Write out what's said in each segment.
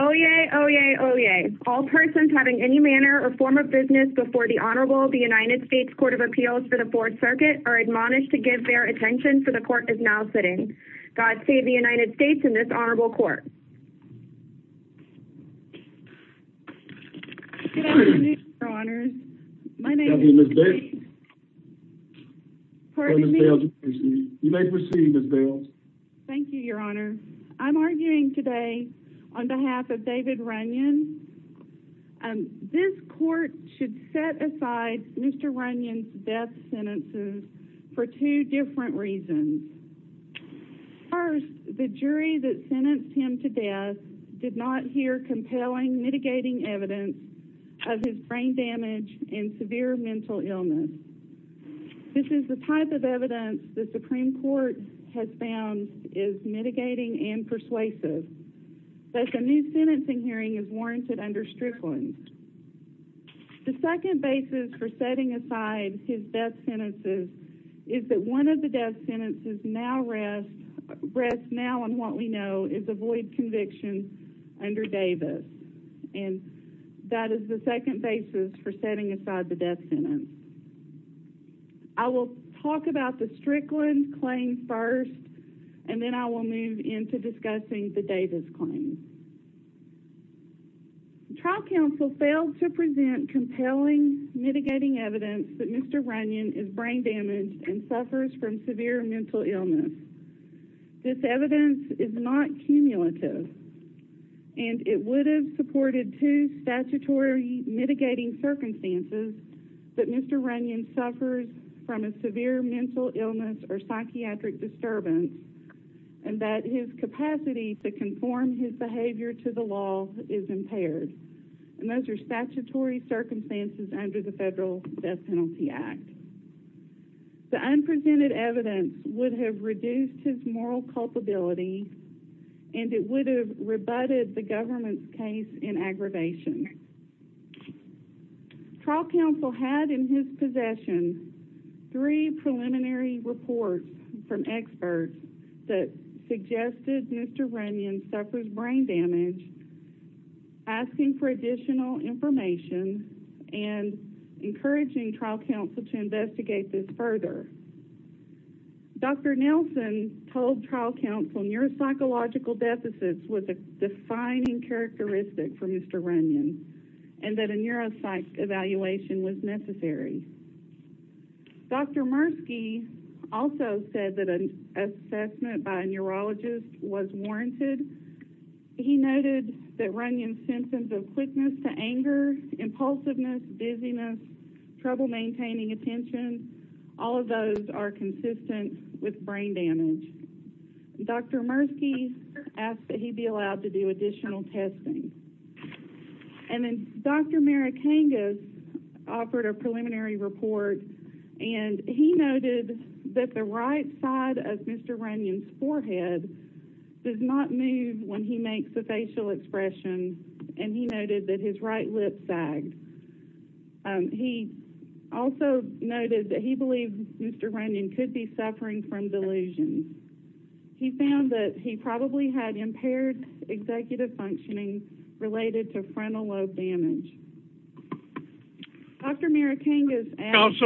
Oyez, oyez, oyez. All persons having any manner or form of business before the Honorable United States Court of Appeals for the Fourth Circuit are admonished to give their attention, for the Court is now sitting. God save the United States and this Honorable Court. Good afternoon, Your Honors. My name is Ms. Bales. Pardon me? You may proceed, Ms. Bales. Thank you, Your Honor. I'm arguing today on behalf of David Runyon. This Court should set aside Mr. Runyon's death sentences for two different reasons. First, the jury that sentenced him to death did not hear compelling mitigating evidence of his brain damage and severe mental illness. This is the type of evidence the Supreme Court has found is mitigating and persuasive. Thus, a new sentencing hearing is warranted under Strickland. The second basis for setting aside his death sentences is that one of the death sentences now rests now on what we know is a void conviction under Davis. And that is the second basis for setting aside the death sentence. I will talk about the Strickland claim first, and then I will move into discussing the Davis claim. The trial counsel failed to present compelling mitigating evidence that Mr. Runyon is brain damaged and suffers from severe mental illness. This evidence is not cumulative. And it would have supported two statutory mitigating circumstances that Mr. Runyon suffers from a severe mental illness or psychiatric disturbance and that his capacity to conform his behavior to the law is impaired. And those are statutory circumstances under the Federal Death Penalty Act. The unpresented evidence would have reduced his moral culpability and it would have rebutted the government's case in aggravation. Trial counsel had in his possession three preliminary reports from experts that suggested Mr. Runyon suffers brain damage, asking for additional information, and encouraging trial counsel to investigate this further. Dr. Nelson told trial counsel neuropsychological deficits was a defining characteristic for Mr. Runyon, and that a neuropsych evaluation was necessary. Dr. Murski also said that an assessment by a neurologist was warranted. He noted that Runyon's symptoms of quickness to anger, impulsiveness, dizziness, trouble maintaining attention, all of those symptoms were not warranted. None of those are consistent with brain damage. Dr. Murski asked that he be allowed to do additional testing. And then Dr. Marikangas offered a preliminary report, and he noted that the right side of Mr. Runyon's forehead does not move when he makes a facial expression, and he noted that his right lip sagged. He also noted that he believed Mr. Runyon could be suffering from delusions. He found that he probably had impaired executive functioning related to frontal lobe damage. Dr. Marikangas asked...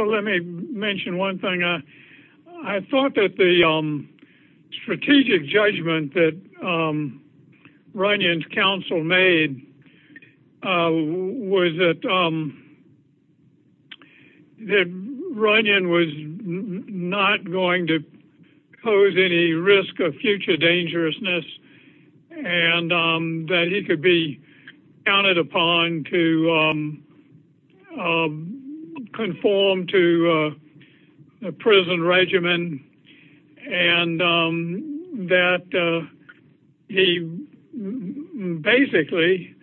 And that he basically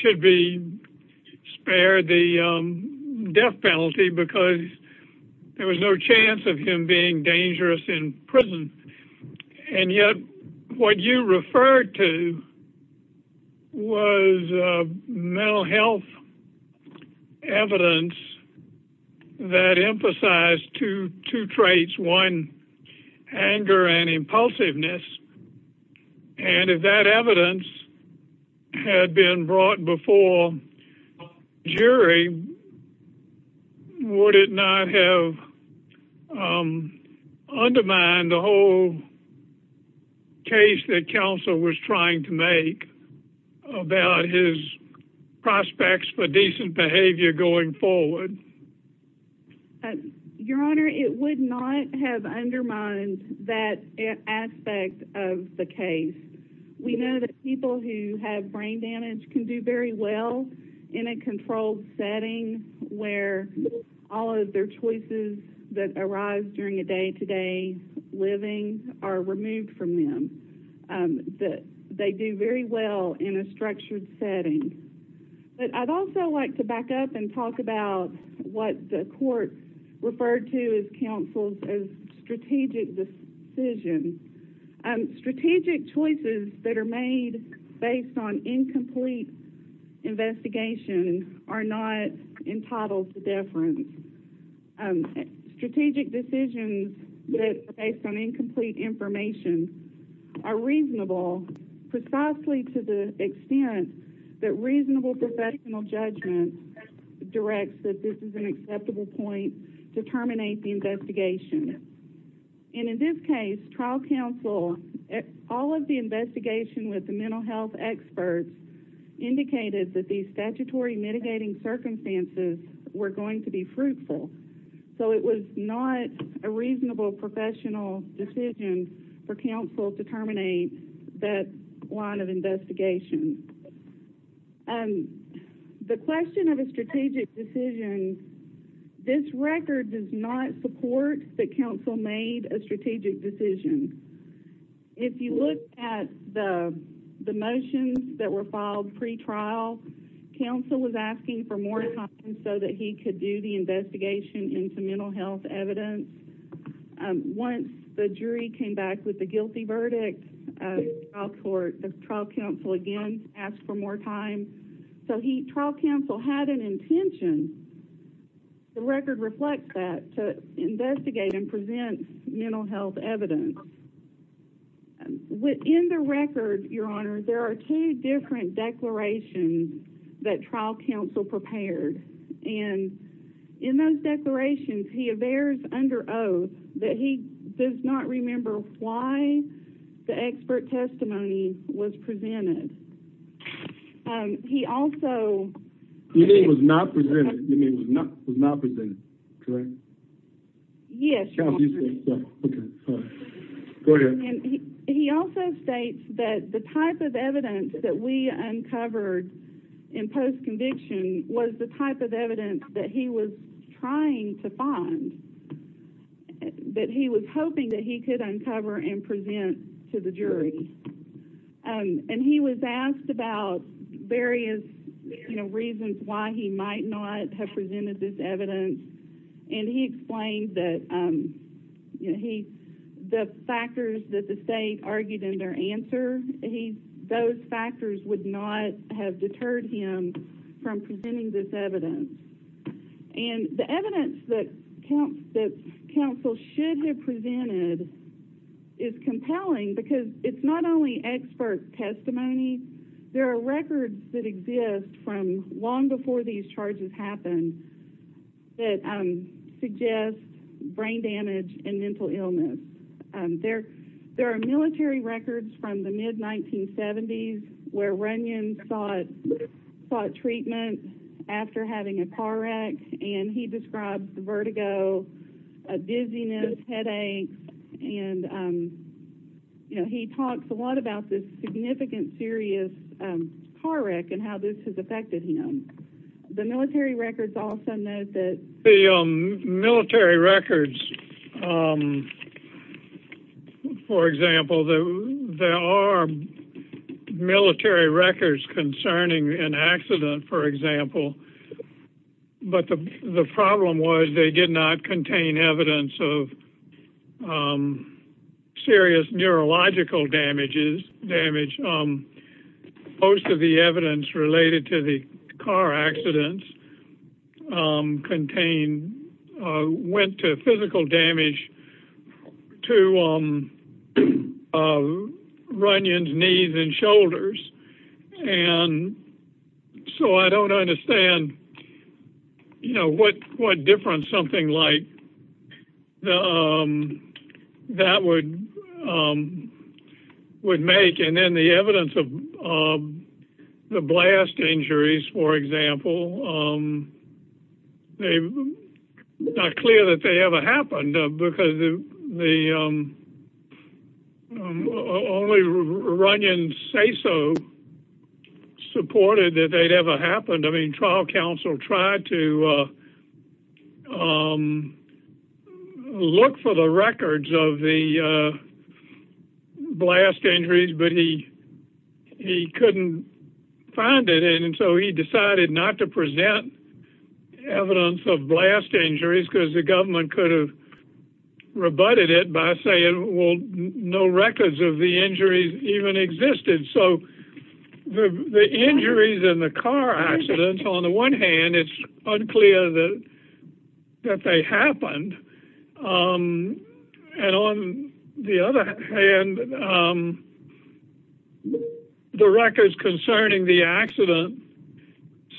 should be spared the death penalty because there was no chance of him being dangerous in prison. And yet, what you referred to was mental health evidence that emphasized two traits, one, anger and impulsiveness. And if that evidence had been brought before jury, would it not have undermined the whole case that counsel was trying to make about his prospects for decent behavior going forward? Your Honor, it would not have undermined that aspect of the case. We know that people who have brain damage can do very well in a controlled setting where all of their choices that arise during a day-to-day living are removed from them. They do very well in a structured setting. But I'd also like to back up and talk about what the court referred to as counsel's strategic decision. Strategic choices that are made based on incomplete investigation are not entitled to deference. Strategic decisions that are based on incomplete information are reasonable precisely to the extent that reasonable professional judgment directs that this is an acceptable point to terminate the investigation. And in this case, trial counsel, all of the investigation with the mental health experts indicated that these statutory mitigating circumstances were going to be fruitful. So it was not a reasonable professional decision for counsel to terminate that line of investigation. The question of a strategic decision, this record does not support that counsel made a strategic decision. If you look at the motions that were filed pre-trial, counsel was asking for more time so that he could do the investigation into mental health evidence. Once the jury came back with a guilty verdict, trial counsel again asked for more time. So trial counsel had an intention, the record reflects that, to investigate and present mental health evidence. Within the record, your honor, there are two different declarations that trial counsel prepared. And in those declarations, he avers under oath that he does not remember why the expert testimony was presented. He also... You mean it was not presented, correct? Yes, your honor. Okay, go ahead. He also states that the type of evidence that we uncovered in post-conviction was the type of evidence that he was trying to find. That he was hoping that he could uncover and present to the jury. And he was asked about various reasons why he might not have presented this evidence. And he explained that the factors that the state argued in their answer, those factors would not have deterred him from presenting this evidence. And the evidence that counsel should have presented is compelling because it's not only expert testimony. There are records that exist from long before these charges happened. That suggest brain damage and mental illness. There are military records from the mid-1970s where Runyon sought treatment after having a car wreck. And he describes the vertigo, a dizziness, headaches. And he talks a lot about this significant, serious car wreck and how this has affected him. The military records also note that... The military records, for example, there are military records concerning an accident, for example. But the problem was they did not contain evidence of serious neurological damage. Most of the evidence related to the car accidents contained... Went to physical damage to Runyon's knees and shoulders. And so I don't understand, you know, what difference something like that would make. And the evidence of the blast injuries, for example, it's not clear that they ever happened. Because only Runyon's say-so supported that they'd ever happened. I mean, trial counsel tried to look for the records of the blast injuries, but he couldn't find it. And so he decided not to present evidence of blast injuries. Because the government could have rebutted it by saying, well, no records of the injuries even existed. So the injuries in the car accidents, on the one hand, it's unclear that they happened. And on the other hand, the records concerning the accident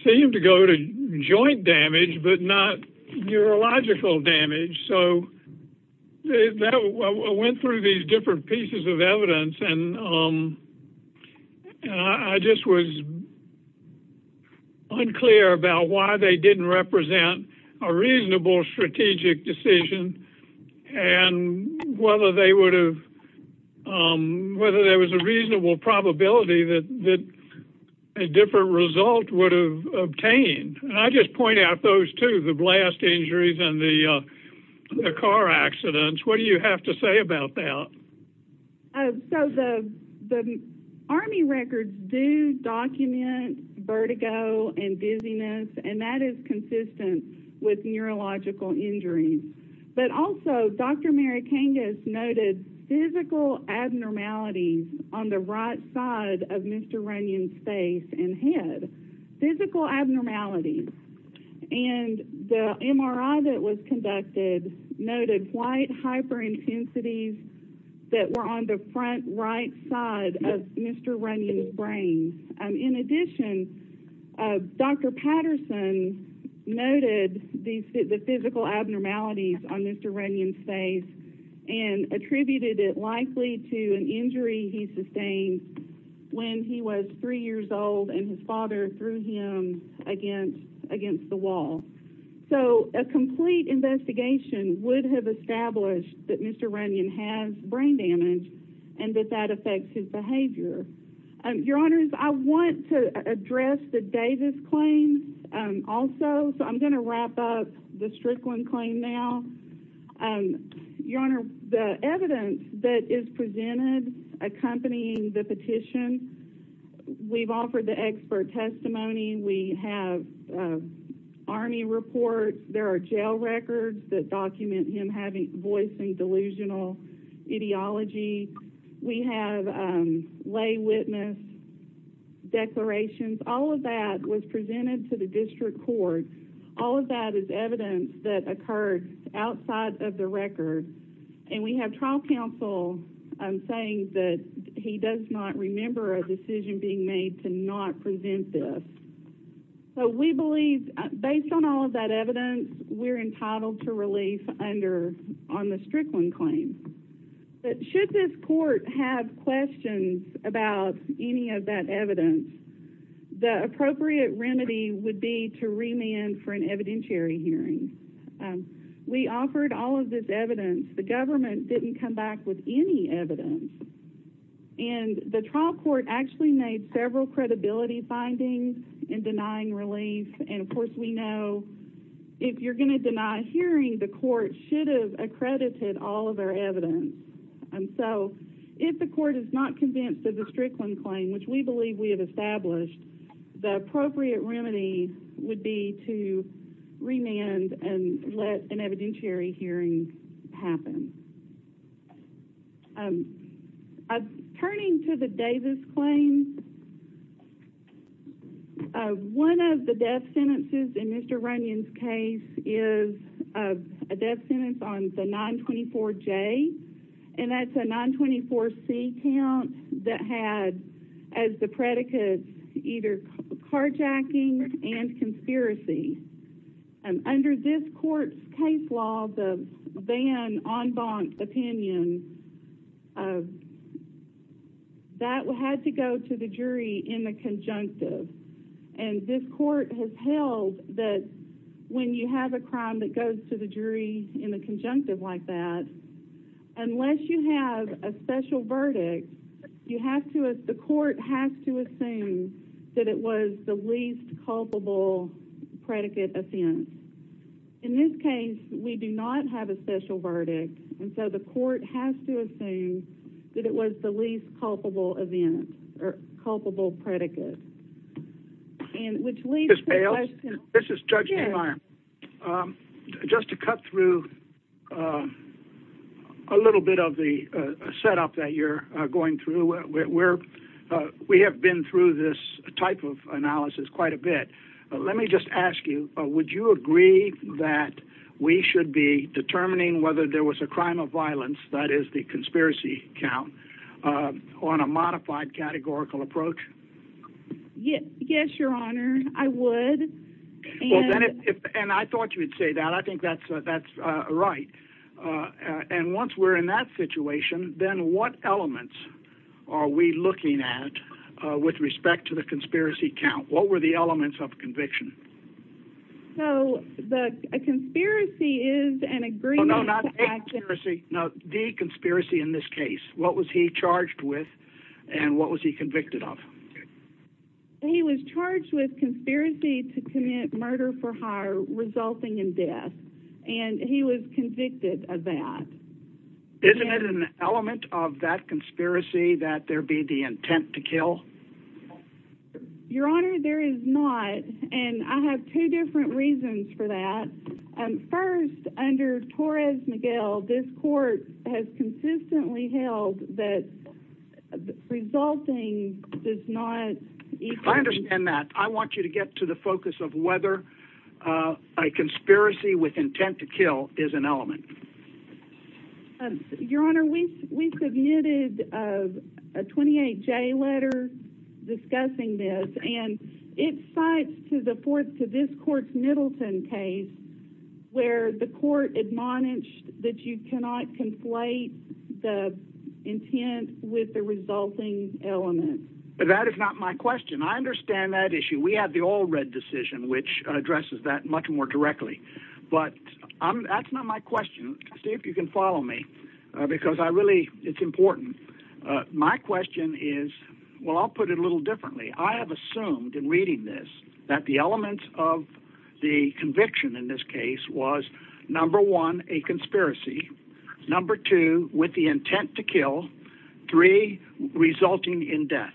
seem to go to joint damage, but not neurological damage. So I went through these different pieces of evidence, and I just was unclear about why they didn't represent a reasonable strategic decision. And whether there was a reasonable probability that a different result would have obtained. And I just point out those two, the blast injuries and the car accidents. What do you have to say about that? So the Army records do document vertigo and dizziness, and that is consistent with neurological injuries. But also, Dr. Mary Kangas noted physical abnormalities on the right side of Mr. Runyon's face and head. Physical abnormalities. And the MRI that was conducted noted white hyperintensities that were on the front right side of Mr. Runyon's brain. In addition, Dr. Patterson noted the physical abnormalities on Mr. Runyon's face. And attributed it likely to an injury he sustained when he was three years old and his father threw him against the wall. So a complete investigation would have established that Mr. Runyon has brain damage and that that affects his behavior. Your Honors, I want to address the Davis claim also, so I'm going to wrap up the Strickland claim now. Your Honor, the evidence that is presented accompanying the petition, we've offered the expert testimony. We have Army reports. There are jail records that document him having voicing delusional ideology. We have lay witness declarations. All of that was presented to the district court. All of that is evidence that occurred outside of the record. And we have trial counsel saying that he does not remember a decision being made to not present this. So we believe, based on all of that evidence, we're entitled to relief on the Strickland claim. But should this court have questions about any of that evidence, the appropriate remedy would be to remand for an evidentiary hearing. We offered all of this evidence. The government didn't come back with any evidence. And the trial court actually made several credibility findings in denying relief. And, of course, we know if you're going to deny hearing, the court should have accredited all of our evidence. And so if the court is not convinced of the Strickland claim, which we believe we have established, the appropriate remedy would be to remand and let an evidentiary hearing happen. Turning to the Davis claim, one of the death sentences in Mr. Runyon's case is a death sentence on the 924J. And that's a 924C count that had, as the predicate, either carjacking and conspiracy. And under this court's case law, the van en banc opinion, that had to go to the jury in the conjunctive. And this court has held that when you have a crime that goes to the jury in the conjunctive like that, unless you have a special verdict, the court has to assume that it was the least culpable predicate offense. In this case, we do not have a special verdict. And so the court has to assume that it was the least culpable event or culpable predicate. Ms. Bales, this is Judge Neumeyer. Just to cut through a little bit of the setup that you're going through. We have been through this type of analysis quite a bit. Let me just ask you, would you agree that we should be determining whether there was a crime of violence, that is the conspiracy count, on a modified categorical approach? Yes, Your Honor, I would. And I thought you would say that. I think that's right. And once we're in that situation, then what elements are we looking at with respect to the conspiracy count? What were the elements of conviction? So, the conspiracy is an agreement to act... No, not a conspiracy. No, the conspiracy in this case. What was he charged with and what was he convicted of? He was charged with conspiracy to commit murder for hire resulting in death. And he was convicted of that. Isn't it an element of that conspiracy that there be the intent to kill? Your Honor, there is not. And I have two different reasons for that. First, under Torres-Miguel, this court has consistently held that resulting does not equal... I understand that. I want you to get to the focus of whether a conspiracy with intent to kill is an element. Your Honor, we submitted a 28-J letter discussing this, and it cites to this court's Middleton case where the court admonished that you cannot conflate the intent with the resulting element. That is not my question. I understand that issue. We have the all-red decision, which addresses that much more directly. But that's not my question. See if you can follow me, because I really... it's important. My question is... well, I'll put it a little differently. I assumed in reading this that the elements of the conviction in this case was, number one, a conspiracy. Number two, with the intent to kill. Three, resulting in death.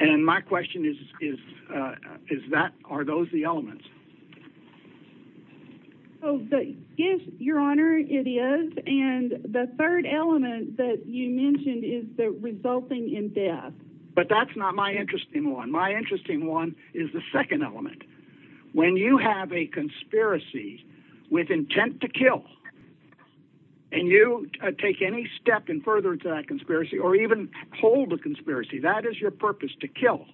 And my question is, are those the elements? Yes, Your Honor, it is. And the third element that you mentioned is the resulting in death. But that's not my interesting one. My interesting one is the second element. When you have a conspiracy with intent to kill, and you take any step in furtherance of that conspiracy, or even hold a conspiracy, that is your purpose, to kill.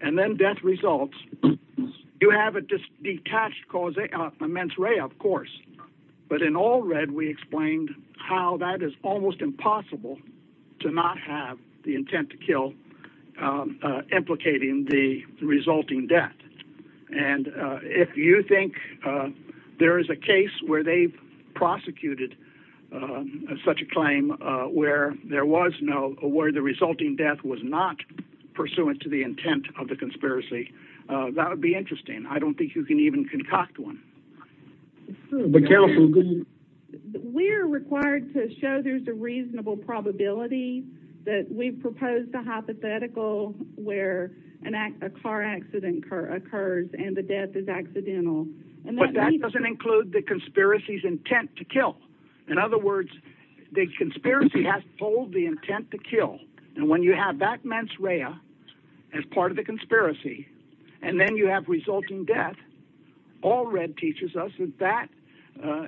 And then death results. You have a detached cause, a mens rea, of course. But in all red, we explained how that is almost impossible to not have the intent to kill implicating the resulting death. And if you think there is a case where they've prosecuted such a claim, where there was no... where the resulting death was not pursuant to the intent of the conspiracy, that would be interesting. I don't think you can even concoct one. But counsel... We're required to show there's a reasonable probability that we've proposed a hypothetical where a car accident occurs and the death is accidental. But that doesn't include the conspiracy's intent to kill. In other words, the conspiracy has to hold the intent to kill. And when you have that mens rea as part of the conspiracy, and then you have resulting death, all red teaches us that that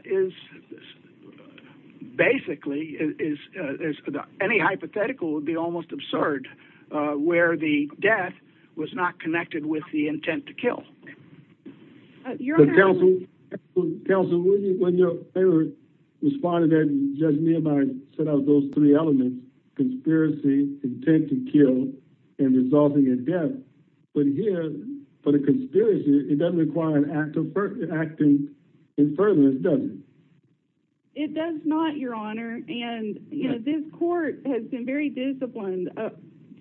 is basically... any hypothetical would be almost absurd, where the death was not connected with the intent to kill. You're under... Counsel, when your favorite responded that Judge Nehemiah set out those three elements, conspiracy, intent to kill, and resulting in death, it doesn't appear for the conspiracy, it doesn't require an act of... acting in furtherance, does it? It does not, Your Honor. And, you know, this court has been very disciplined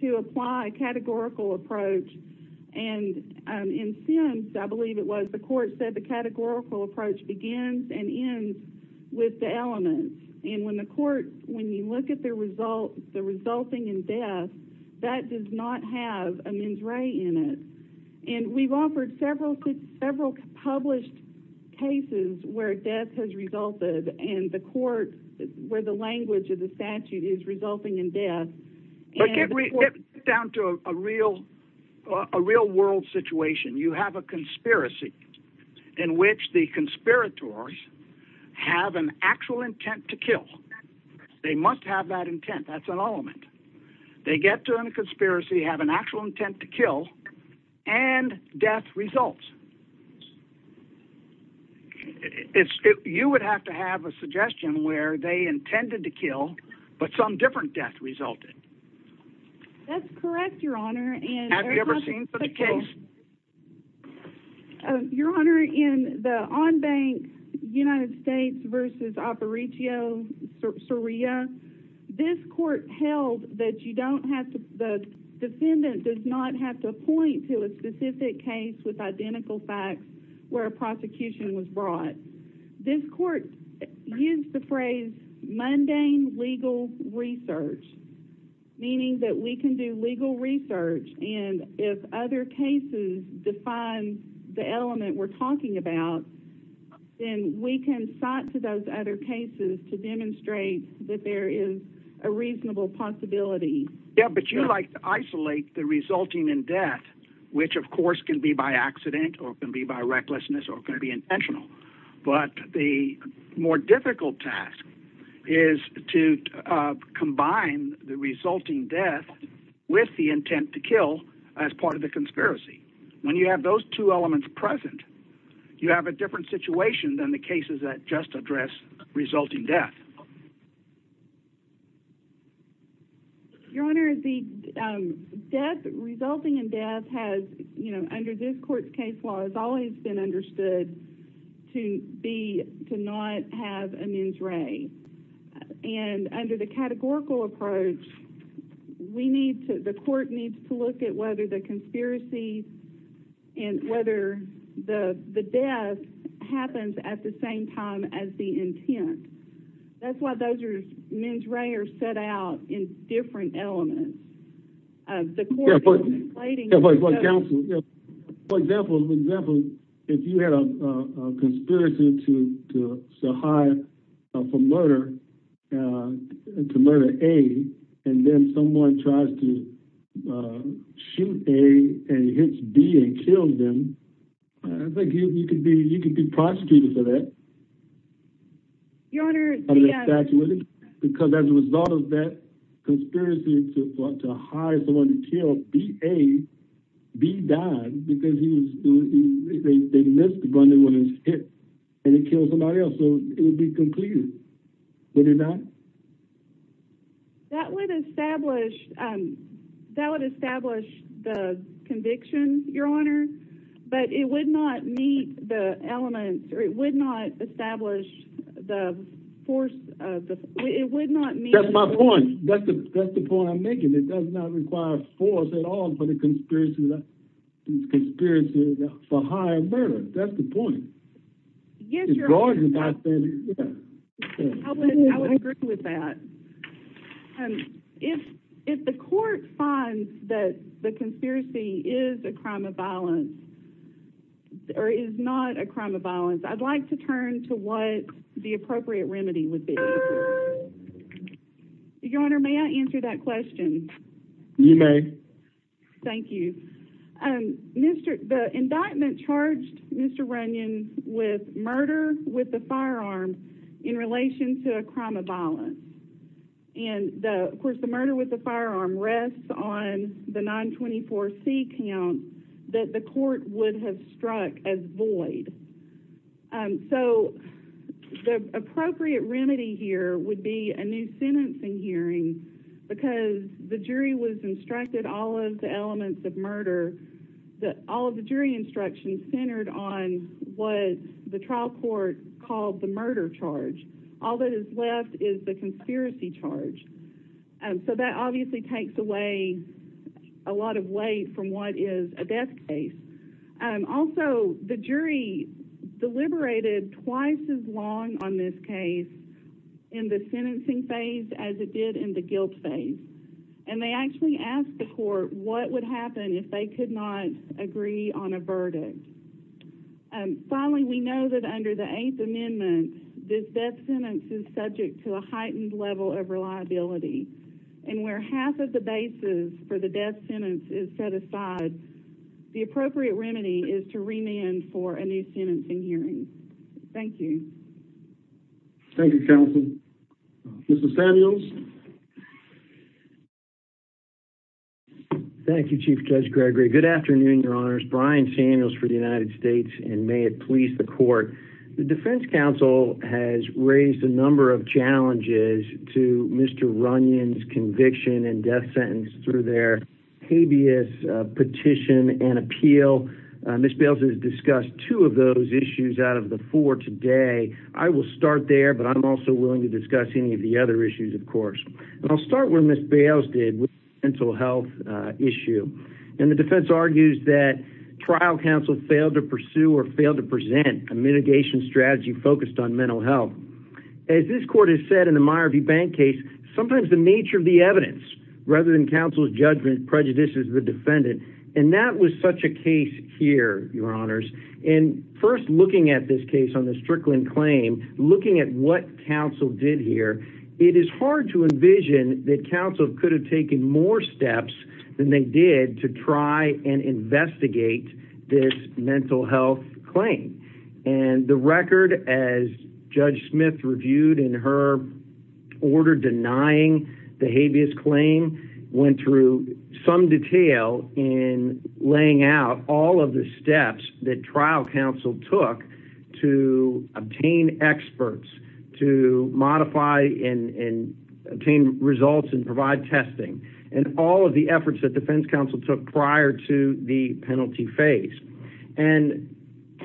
to apply a categorical approach. And in sentence, I believe it was, the court said the categorical approach begins and ends with the elements. And when the court... when you look at the result... the resulting in death, that does not have a mens rea in it. And we've offered several published cases where death has resulted, and the court, where the language of the statute is resulting in death. But get down to a real-world situation. You have a conspiracy, in which the conspirators have an actual intent to kill. They must have that intent. That's an element. They get to a conspiracy, have an actual intent to kill, and death results. You would have to have a suggestion where they intended to kill, but some different death resulted. That's correct, Your Honor. Have you ever seen such a case? Your Honor, in the on-bank United States v. Aparicio Soria, this court held that you don't have to... the defendant does not have to point to a specific case with identical facts where a prosecution was brought. This court used the phrase mundane legal research, meaning that we can do legal research, and if other cases define the element we're talking about, then we can cite to those other cases to demonstrate that there is a reasonable possibility. Yeah, but you like to isolate the resulting in death, which, of course, can be by accident, or can be by recklessness, or can be intentional. But the more difficult task is to combine the resulting death with the intent to kill as part of the conspiracy. When you have those two elements present, you have a different situation than the cases that just address resulting death. Your Honor, the resulting in death has, under this court's case law, has always been understood to not have a mens re. And under the categorical approach, the court needs to look at whether the conspiracy and whether the death happens at the same time as the intent. That's why those mens re are set out in different elements. The court is inflating... Yeah, but counsel, for example, if you had a conspiracy to hire for murder, to murder A, and then someone tries to shoot A and hits B and kills him, I think you could be prosecuted for that. Your Honor, the... Because as a result of that conspiracy to hire someone to kill B, A, B died because they missed the gun when it was hit and it killed somebody else, so it would be completed, would it not? That would establish... That would establish the conviction, Your Honor, but it would not meet the elements... It would not establish the force... It would not meet... That's my point. That's the point I'm making. It does not require force at all That's the point. Yes, Your Honor. I would agree with that. If the court finds that the conspiracy is a crime of violence or is not a crime of violence, I'd like to turn to what the appropriate remedy would be. Your Honor, may I answer that question? You may. Thank you. The indictment charged Mr. Runyon with murder, with a firearm, in relation to a crime of violence. And, of course, the murder with a firearm rests on the 924C count that the court would have struck as void. So the appropriate remedy here would be a new sentencing hearing because the jury was instructed all of the elements of murder... All of the jury instructions centered on what the trial court called the murder charge. All that is left is the conspiracy charge. So that obviously takes away a lot of weight from what is a death case. Also, the jury deliberated twice as long on this case in the sentencing phase as it did in the guilt phase. And they actually asked the court what would happen if they could not agree on a verdict. Finally, we know that under the Eighth Amendment, this death sentence is subject to a heightened level of reliability. And where half of the basis for the death sentence is set aside, the appropriate remedy is to remand for a new sentencing hearing. Thank you. Thank you, counsel. Mr. Samuels? Thank you, Chief Judge Gregory. Good afternoon, Your Honors. My name is Brian Samuels for the United States. And may it please the court, the defense counsel has raised a number of challenges to Mr. Runyon's conviction and death sentence through their habeas petition and appeal. Ms. Bales has discussed two of those issues out of the four today. I will start there, but I'm also willing to discuss any of the other issues, of course. And I'll start where Ms. Bales did with the mental health issue. And the defense argues that trial counsel failed to pursue or failed to present a mitigation strategy focused on mental health. As this court has said in the Meyer v. Bank case, sometimes the nature of the evidence, rather than counsel's judgment, prejudices the defendant. And that was such a case here, Your Honors. And first, looking at this case on the Strickland claim, looking at what counsel did here, it is hard to envision that counsel could have taken more steps than they did to try and investigate this mental health claim. And the record, as Judge Smith reviewed in her order denying the habeas claim, went through some detail in laying out all of the steps that trial counsel took to obtain experts, to modify and obtain results and provide testing. And all of the efforts that defense counsel took prior to the penalty phase. And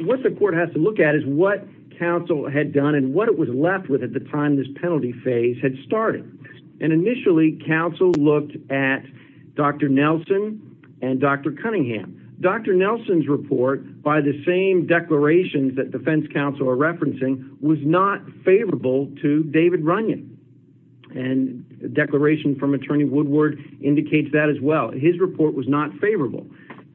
what the court has to look at is what counsel had done and what it was left with at the time this penalty phase had started. And initially, counsel looked at Dr. Nelson and Dr. Cunningham. Dr. Nelson's report, by the same declarations that defense counsel are referencing, was not favorable to David Runyon. And the declaration from Attorney Woodward indicates that as well. His report was not favorable.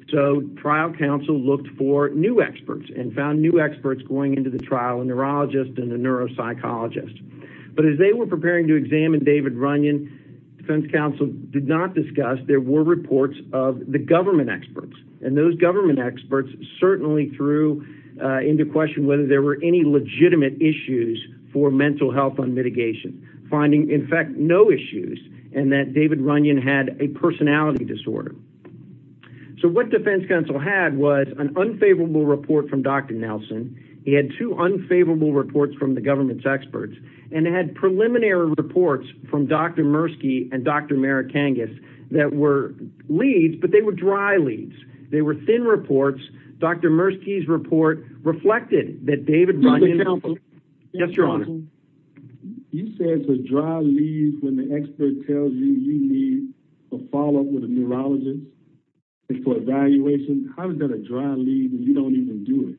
So trial counsel looked for new experts and found new experts going into the trial, a neurologist and a neuropsychologist. But as they were preparing to examine David Runyon, defense counsel did not discuss there were reports of the government experts. And those government experts certainly threw into question whether there were any legitimate issues for mental health on mitigation. Finding, in fact, no issues. And that David Runyon had a personality disorder. So what defense counsel had was an unfavorable report from Dr. Nelson. He had two unfavorable reports from the government's experts. And it had preliminary reports from Dr. Murski and Dr. Merikangas that were leads, but they were dry leads. They were thin reports. Dr. Murski's report reflected that David Runyon... Yes, Your Honor. ...had to draw leads when the expert tells you you need a follow-up with a neurologist for evaluation. How is that a dry lead when you don't even do it?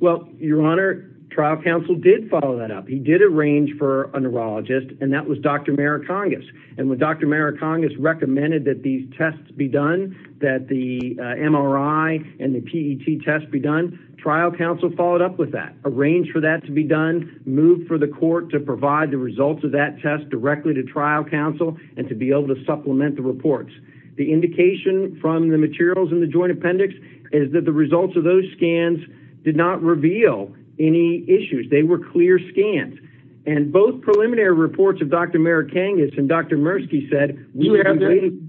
Well, Your Honor, trial counsel did follow that up. He did arrange for a neurologist, and that was Dr. Merikangas. And when Dr. Merikangas recommended that these tests be done, that the MRI and the PET tests be done, trial counsel followed up with that, arranged for that to be done, moved for the court to provide the results of that test directly to trial counsel and to be able to supplement the reports. The indication from the materials in the joint appendix is that the results of those scans did not reveal any issues. They were clear scans. And both preliminary reports of Dr. Merikangas and Dr. Murski said... You have that?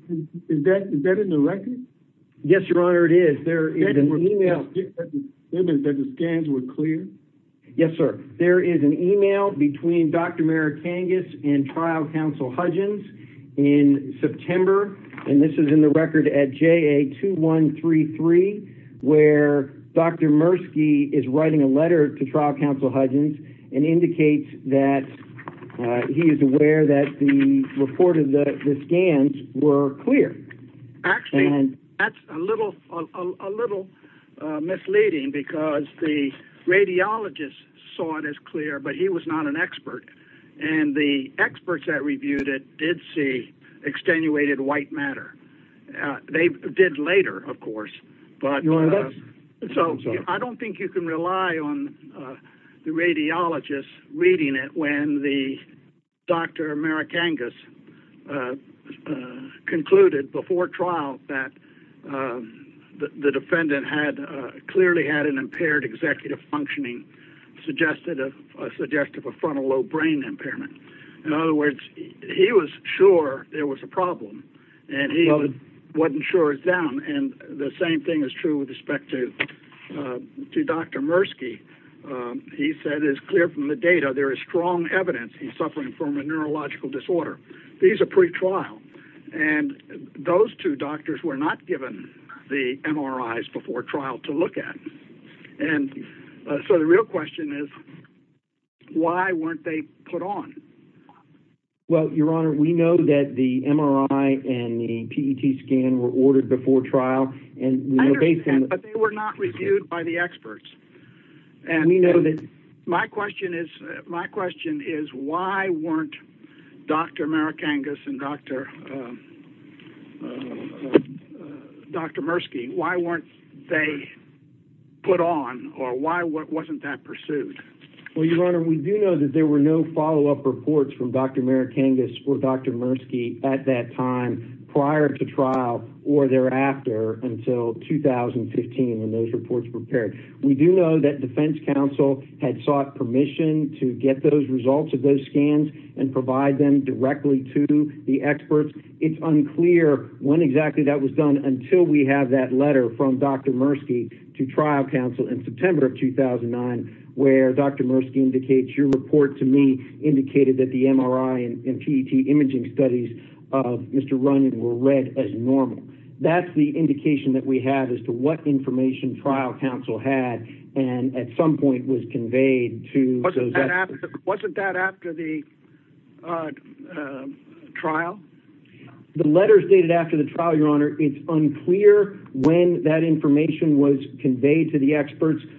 Is that in the record? Yes, Your Honor, it is. There is an email... There is an email between Dr. Merikangas and trial counsel Hudgens in September, and this is in the record at JA2133, where Dr. Murski is writing a letter to trial counsel Hudgens and indicates that he is aware that the report of the scans were clear. Actually, that's a little misleading because the radiologist saw it as clear but he was not an expert. And the experts that reviewed it did see extenuated white matter. They did later, of course, but... Your Honor, that's... So I don't think you can rely on the radiologist reading it when Dr. Merikangas concluded before trial that the defendant clearly had an impaired executive functioning, and suggested a suggestive of frontal lobe brain impairment. In other words, he was sure there was a problem, and he wasn't sure it was down. And the same thing is true with respect to Dr. Murski. He said it's clear from the data there is strong evidence he's suffering from a neurological disorder. These are pre-trial. And those two doctors were not given the MRIs before trial to look at. Your question is, why weren't they put on? Well, Your Honor, we know that the MRI and the PET scan were ordered before trial. I understand, but they were not reviewed by the experts. And we know that... My question is, why weren't Dr. Merikangas and Dr. Murski, why weren't they put on? Or why wasn't that pursued? Well, Your Honor, we do know that there were no follow-up reports from Dr. Merikangas or Dr. Murski at that time prior to trial, or thereafter until 2015 when those reports were prepared. We do know that Defense Counsel had sought permission to get those results of those scans and provide them directly to the experts. It's unclear when exactly that was done until we have that letter in September of 2009 where Dr. Murski indicates, your report to me indicated that the MRI and PET imaging studies of Mr. Runyon were read as normal. That's the indication that we have as to what information trial counsel had and at some point was conveyed to... Wasn't that after the trial? The letters dated after the trial, Your Honor, it's unclear when that information was provided.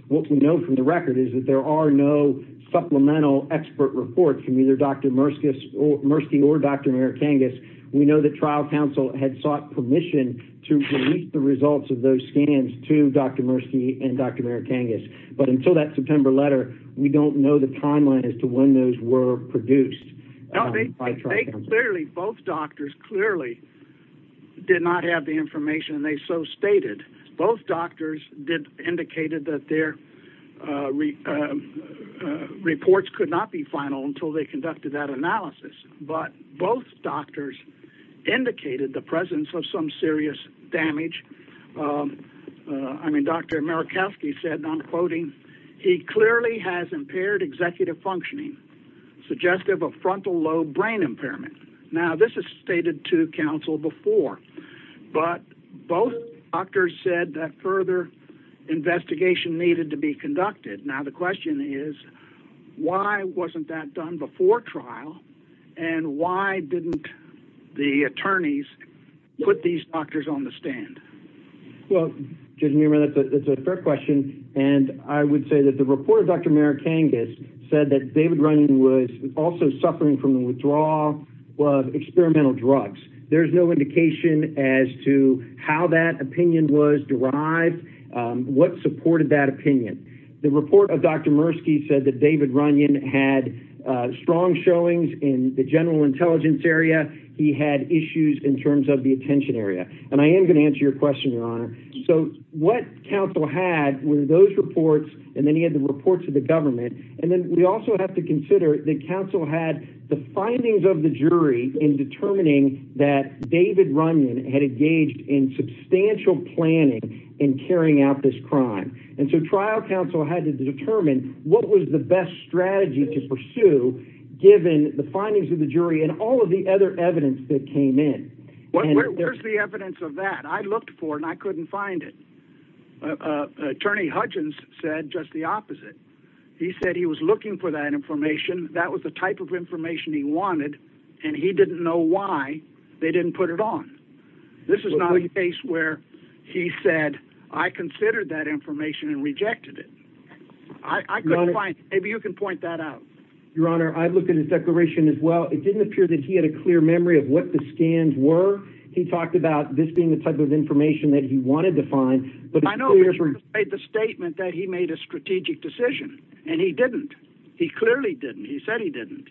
What we know from the record is that there are no supplemental expert reports from either Dr. Murski or Dr. Merikangas. We know that trial counsel had sought permission to release the results of those scans to Dr. Murski and Dr. Merikangas. But until that September letter, we don't know the timeline as to when those were produced by trial counsel. Both doctors clearly did not have the information and their reports could not be final until they conducted that analysis. But both doctors indicated the presence of some serious damage. I mean, Dr. Merikangas said, and I'm quoting, he clearly has impaired executive functioning suggestive of frontal lobe brain impairment. Now, this is stated to counsel before. But both doctors said that further investigation needed to be conducted. Now, the question is, why wasn't that done before trial? And why didn't the attorneys put these doctors on the stand? Well, Judge Meerman, that's a fair question. And I would say that the report of Dr. Merikangas said that David Runyon was also suffering from the withdrawal of experimental drugs. There's no indication as to how that opinion was derived. What supported that opinion? The report of Dr. Murski said that David Runyon had strong showings in the general intelligence area. He had issues in terms of the attention area. And I am going to answer your question, Your Honor. So what counsel had were those reports and then he had the reports of the government. And then we also have to consider that counsel had the findings of the jury in determining that David Runyon had engaged in planning in carrying out this crime. And so trial counsel had to determine what was the best strategy to pursue given the findings of the jury and all of the other evidence that came in. Where's the evidence of that? I looked for it and I couldn't find it. Attorney Hudgens said just the opposite. He said he was looking for that information. That was the type of information he wanted. And he didn't know why they didn't put it on. This is not a case where he said I considered that information and rejected it. I couldn't find it. Maybe you can point that out. Your Honor, I looked at his declaration as well. It didn't appear that he had a clear memory of what the scans were. He talked about this being the type of information that he wanted to find. But I know he made the statement that he made a strategic decision and he didn't. He clearly didn't. He said he didn't.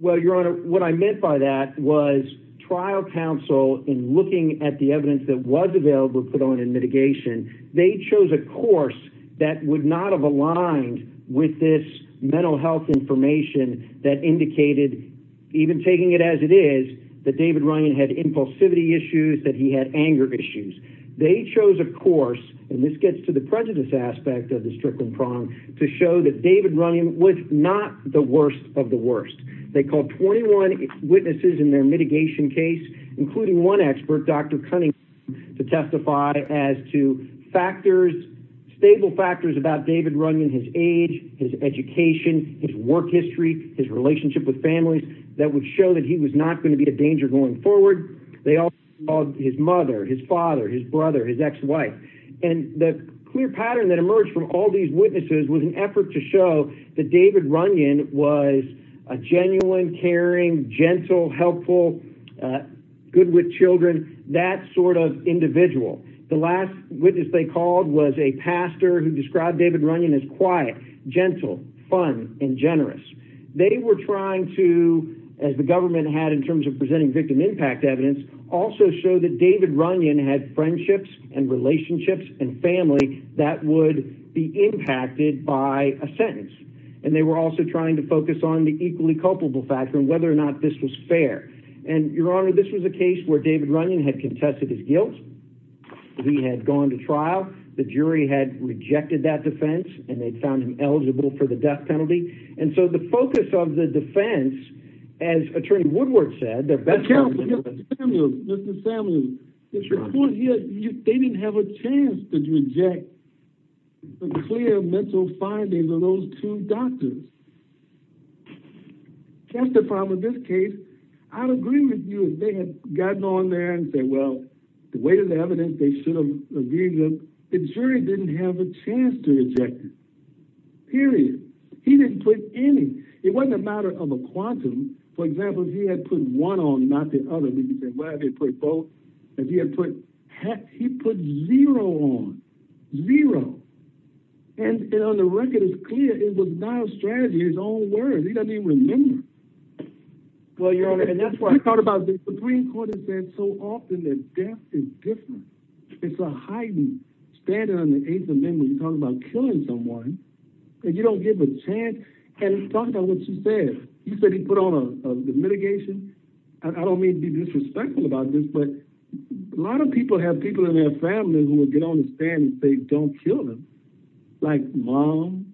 Well, Your Honor, what I meant by that was trial counsel in looking at the evidence that was available put on in mitigation, they chose a course that would not have aligned with this mental health information that indicated even taking it as it is that David Runyon had impulsivity issues, that he had anger issues. They chose a course and this gets to the prejudice aspect of the Strickland prong to show that David Runyon was not the worst of the worst. They called 21 witnesses in their mitigation case including one expert, Dr. Cunningham, to testify as to factors, stable factors about David Runyon, his age, his education, his work history, his relationship with families that would show that he was not going to be a danger going forward. They also called his mother, his father, his brother, his ex-wife. And the clear pattern that emerged from all these witnesses was an effort to show that David Runyon was a genuine, caring, gentle, helpful, good with children, that sort of individual. The last witness they called was a pastor who described David Runyon as quiet, gentle, fun, and generous. They were trying to, as the government had in terms of presenting victim impact evidence, also show that David Runyon had friendships and relationships and family that would be impacted by a sentence. And they were also trying to focus on the equally culpable factor and whether or not this was fair. And, Your Honor, this was a case where David Runyon had contested his guilt. He had gone to trial. The jury had rejected that defense and they found him eligible for the death penalty. And so the focus of the defense, as Attorney Woodward said, the best... But, Counsel, Mr. Samuels, Mr. Samuels, it's your point here. They didn't have a chance to reject the clear mental findings of those two doctors. That's the problem with this case. I'd agree with you if they had gotten on there and said, well, the weight of the evidence, they should have reviewed them. The jury didn't have a chance to reject it. Period. He didn't put any. It wasn't a matter of a quantum. For example, if he had put one on and not the other, we could say, well, they put both. If he had put... He put zero on. Zero. And on the record, it's clear it was not a strategy. His own words. He doesn't even remember. Well, Your Honor, and that's why... The Supreme Court has said so often that death is different. It's a heightened standard on the Eighth Amendment when you're talking about killing someone and you don't give a chance. And he talked about what you said. You said he put on a mitigation. I don't mean to be disrespectful about this, but a lot of people have people in their families who will get on the stand and say, don't kill him. Like mom,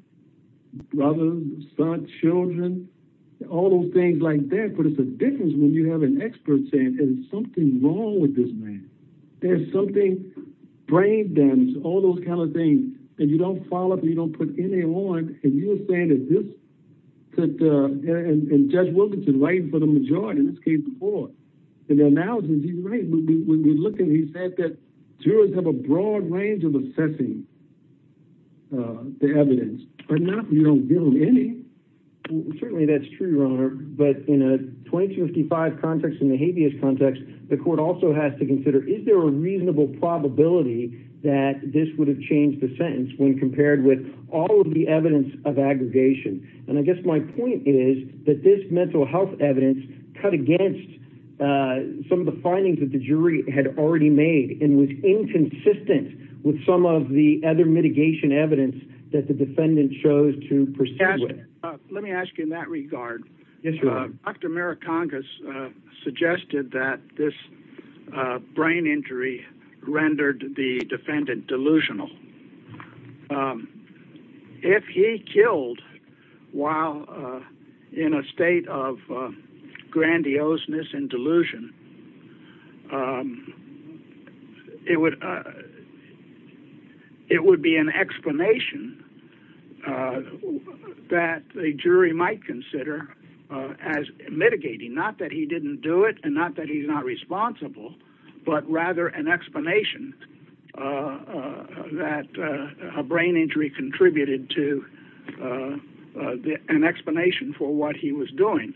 brother, son, children, all those things like that. But it's a difference when you have an expert saying, there's something wrong with this man. There's something... Brain damage, all those kind of things that you don't follow up and you don't put any on. And you're saying that this... And Judge Wilkinson writing for the majority in this case before in the analysis, he's right. When we looked at it, he said that jurors have a broad range of assessing the evidence. But not... You don't build any. Certainly that's true, Your Honor. But in a 2255 context and the habeas context, the court also has to consider is there a reasonable probability that this would have changed the sentence when compared with all of the evidence of aggregation. And I guess my point is that this mental health evidence cut against some of the findings that the jury had already made and was inconsistent with some of the other mitigation evidence that the defendant chose to proceed with. Let me ask you in that regard. Yes, Your Honor. Dr. Marikangas suggested that this brain injury rendered the defendant delusional. If he killed while in a state of grandioseness and delusion, it would be an explanation that a jury might consider as mitigating, not that he didn't do it and not that he's not responsible, but rather an explanation that a brain injury contributed to an explanation for what he was doing.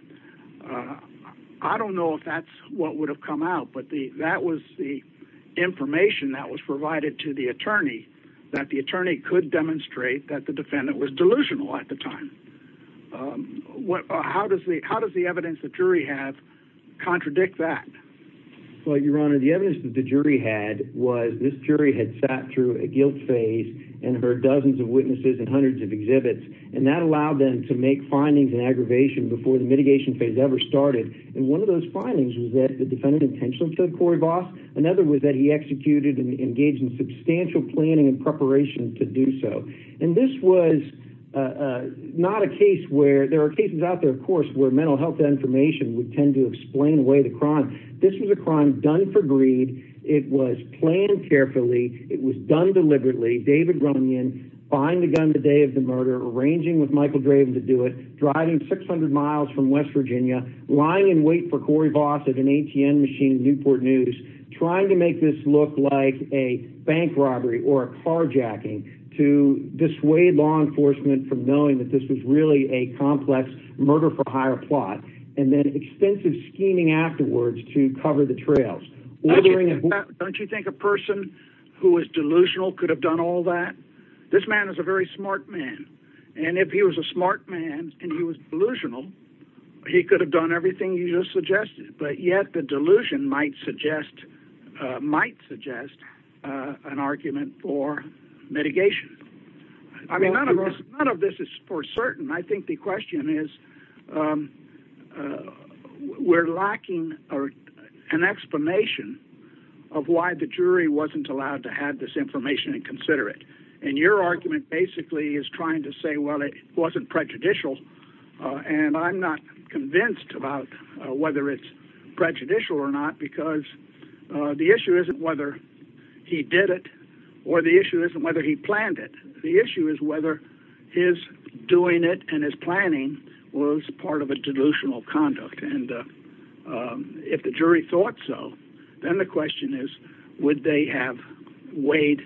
I don't know if that's what would have come out, but that was the information that was provided to the attorney that the attorney could demonstrate that the defendant was delusional at the time. How does the evidence the jury had contradict that? Well, Your Honor, the evidence that the jury had was this jury had sat through a guilt phase and heard dozens of witnesses and hundreds of exhibits, and that allowed them to make findings in aggravation before the mitigation phase ever started. And one of those findings was that the defendant intentionally killed Corey Voss. Another was that he executed and engaged in substantial planning and preparation to do so. And this was not a case where there are cases out there, of course, where mental health information would tend to explain away the crime. This was a crime done for greed. It was planned carefully. It was done deliberately. David Runyon buying the gun the day of the murder, arranging with Michael Draven to do it, driving 600 miles from West Virginia, lying in wait for Corey Voss at an ATM machine in Newport News, trying to make this look like a bank robbery or a carjacking to dissuade law enforcement from knowing that this was really a complex murder-for-hire plot, and then extensive scheming afterwards to cover the trails. Don't you think a person who was delusional could have done all that? This man is a very smart man. And if he was a smart man and he was delusional, he could have done everything you just suggested. But yet the delusion might suggest an argument for mitigation. I mean, none of this is for certain. I think the question is, we're lacking an explanation of why the jury wasn't allowed to have this information and consider it. And your argument basically is trying to say, well, it wasn't prejudicial and I'm not convinced about whether it's prejudicial or not because the issue isn't whether he did it or the issue isn't whether he planned it. The issue is whether his doing it and his planning was part of a delusional conduct. And if the jury thought so, then the question is, would they have weighed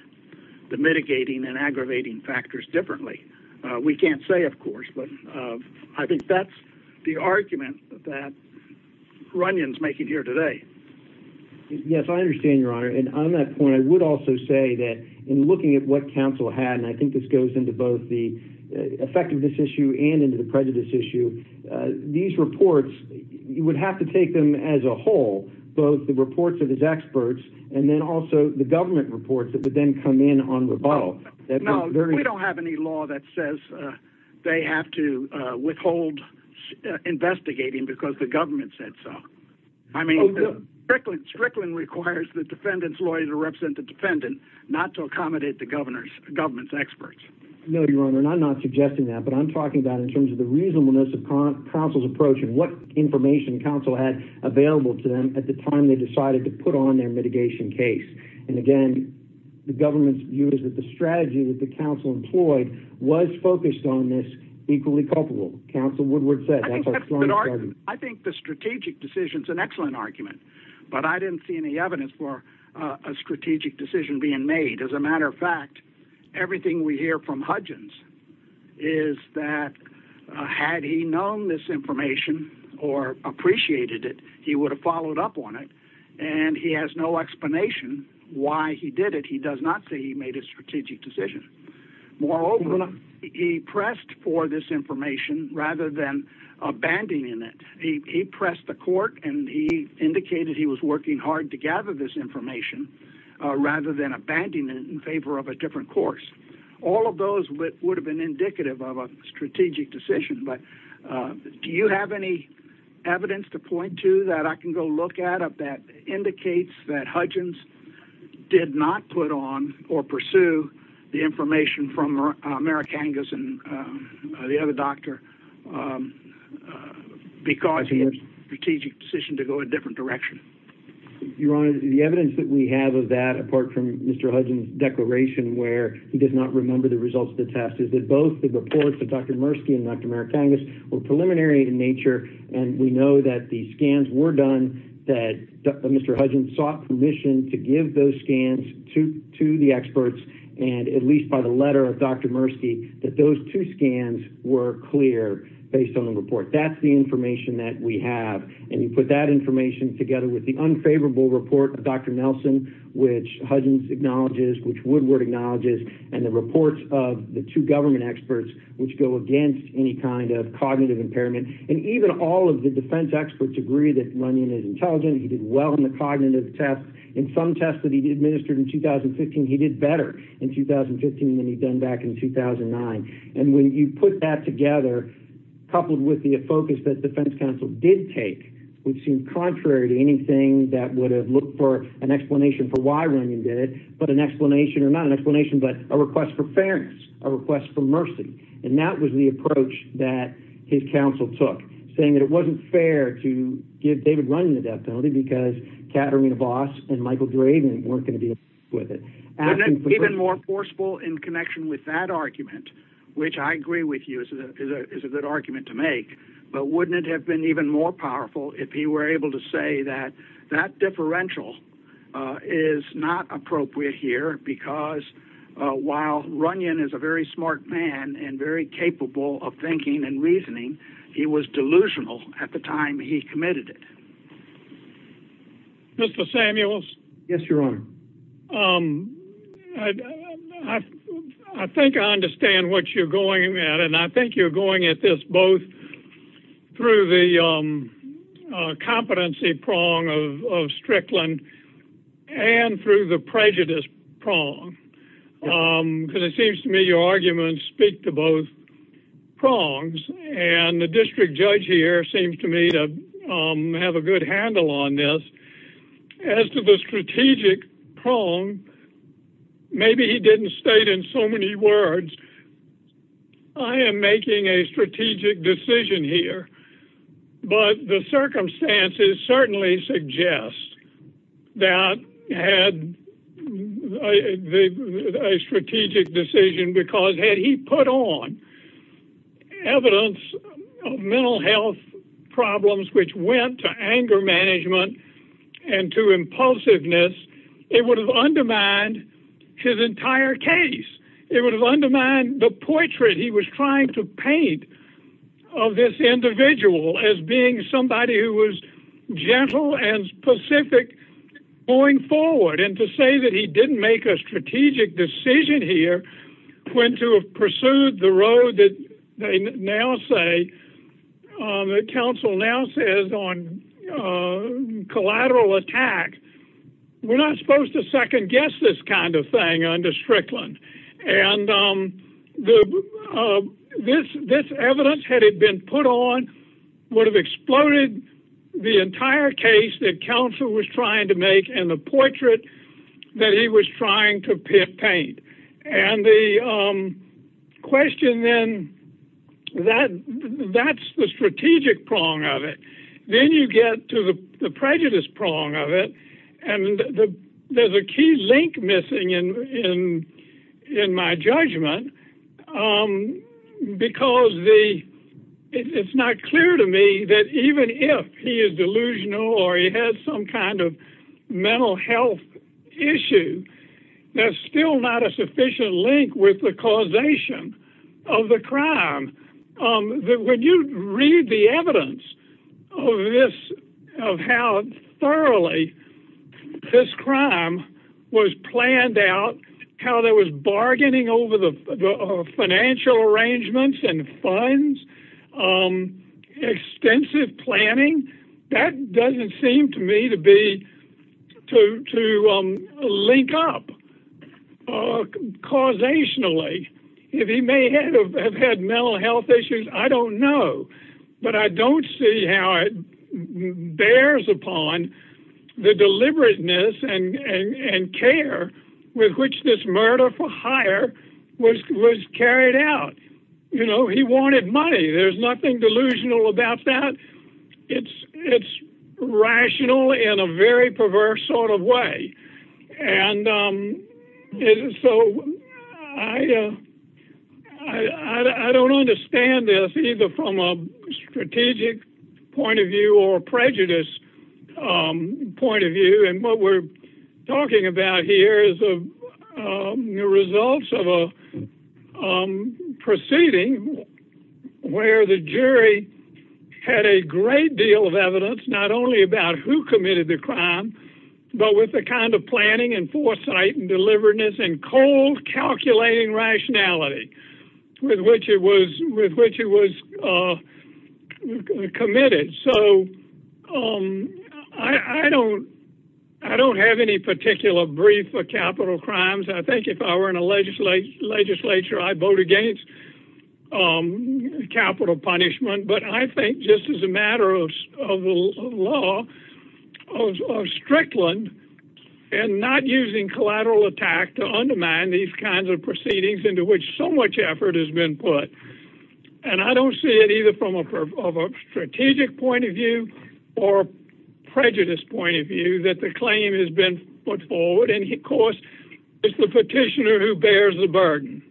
the mitigating and aggravating factors differently? We can't say, of course, but I think that's the argument that Runyon's making here today. Yes, I understand, Your Honor. And on that point, I would also say that in looking at what counsel had, and I think this goes into both the effectiveness issue and into the prejudice issue, these reports, you would have to take them as a whole, both the reports of his experts and then also the government reports that would then come in on rebuttal. No, we don't have any law that says they have to withhold investigating because the government said so. Strickland requires the defendant's lawyer to represent the defendant not to accommodate the government's experts. No, Your Honor, and I'm not suggesting that, but I'm talking about in terms of the reasonableness of counsel's approach and what information counsel had available to them at the time they decided to put on their mitigation case. And again, the government's view is that the strategy that the counsel employed was focused on this equally culpable. Counsel Woodward said that. I think the strategic decision is an excellent argument, but I didn't see any evidence for a strategic decision being made. As a matter of fact, everything we hear from Hudgens is that had he known this information or appreciated it, he would have followed up on it, and he has no explanation why he did it. He does not say he made a strategic decision. Moreover, he pressed for this information rather than abandoning it. He pressed the court, and he indicated he was working hard to gather this information rather than abandoning it in favor of a different course. All of those would have been indicative of a strategic decision, but do you have any evidence to point to that I can go look at that indicates that Hudgens did not put on or pursue the information from Merikangas and the other doctor because he had a strategic decision to go a different direction? Your Honor, the evidence that we have of that, apart from Mr. Hudgens' declaration where he did not remember the results of the test, is that both the reports of Dr. Murski and Dr. Merikangas were preliminary in nature, and we know that the scans were done, that Mr. Hudgens sought permission to give those scans to the experts, and at least by the letter of Dr. Murski, that those two scans were clear based on the report. That's the information that we have, and you put that information together with the unfavorable report of Dr. Nelson, which Hudgens acknowledges, which Woodward acknowledges, and the reports of the two government experts which go against any kind of cognitive impairment, and even all of the defense experts agree that Runyon is intelligent. He did well in the cognitive test. In some tests that he administered in 2015, he did better in 2015 than he'd done back in 2009, and when you put that together, coupled with the focus that defense counsel did take, which seemed contrary to anything that would have looked for an explanation for why Runyon did it, but an explanation, or not an explanation, but a request for fairness, a request for mercy, and that was the approach that his counsel took, saying that it wasn't fair to give David Runyon a death penalty because Katarina Voss and Michael Draven weren't going to be able to work with it. Wouldn't it have been even more forceful in connection with that argument, which I agree with you is a good argument to make, but wouldn't it have been even more powerful if he were able to say that that differential is not appropriate here because while Runyon is a very smart man and very capable of thinking and reasoning, he was delusional at the time he committed it? Mr. Samuels? Yes, Your Honor. I think I understand what you're going at, and I think you're going at this both through the competency prong of Strickland and through the prejudice prong because it seems to me your arguments speak to both prongs, and the district judge here seems to me to have a good handle on this. As to the strategic prong, maybe he didn't state in so many words, I am making a strategic decision here, but the circumstances certainly suggest that had a strategic decision, because had he put on evidence of mental health problems which went to anger management and to impulsiveness, it would have undermined his entire case. It would have undermined the portrait he was trying to paint of this individual as being somebody who was gentle and specific going forward, and to say that he didn't make a strategic decision here when to have pursued the road that they now say, that counsel now says on collateral attack, we're not supposed to second guess this kind of thing under Strickland. This evidence, had it been put on, would have exploded the entire case that counsel was trying to make and the portrait that he was trying to paint. And the question then, that's the strategic prong of it. Then you get to the prejudice prong of it, and there's a key link missing in my judgment, because it's not clear to me that even if he is delusional or he has some kind of mental health issue, there's still not a sufficient link with the causation of the crime. When you read the evidence of how thoroughly this crime was planned out, how there was bargaining over the financial arrangements and funds, extensive planning, that doesn't seem to me to link up causationally. If he may have had mental health issues, I don't know, but I don't see how it bears upon the deliberateness and care with which this murder for hire was carried out. He wanted money. There's nothing delusional about that. It's rational in a very perverse sort of way. And so I don't understand this, either from a strategic point of view or a prejudice point of view. And what we're talking about here is the results of a proceeding where the jury had a great deal of evidence, not only about who committed the crime, but with the kind of planning and foresight and deliveredness and cold calculating rationality with which it was committed. So I don't have any particular brief for capital crimes. I think if I were in a legislature, I'd vote against capital punishment. But I think just as a matter of law, of Strickland, and not using collateral attack to undermine these kinds of proceedings into which so much effort has been put. And I don't see it either from a strategic point of view or a prejudice point of view that the claim has been put forward. And of course, it's the petitioner who bears the burden.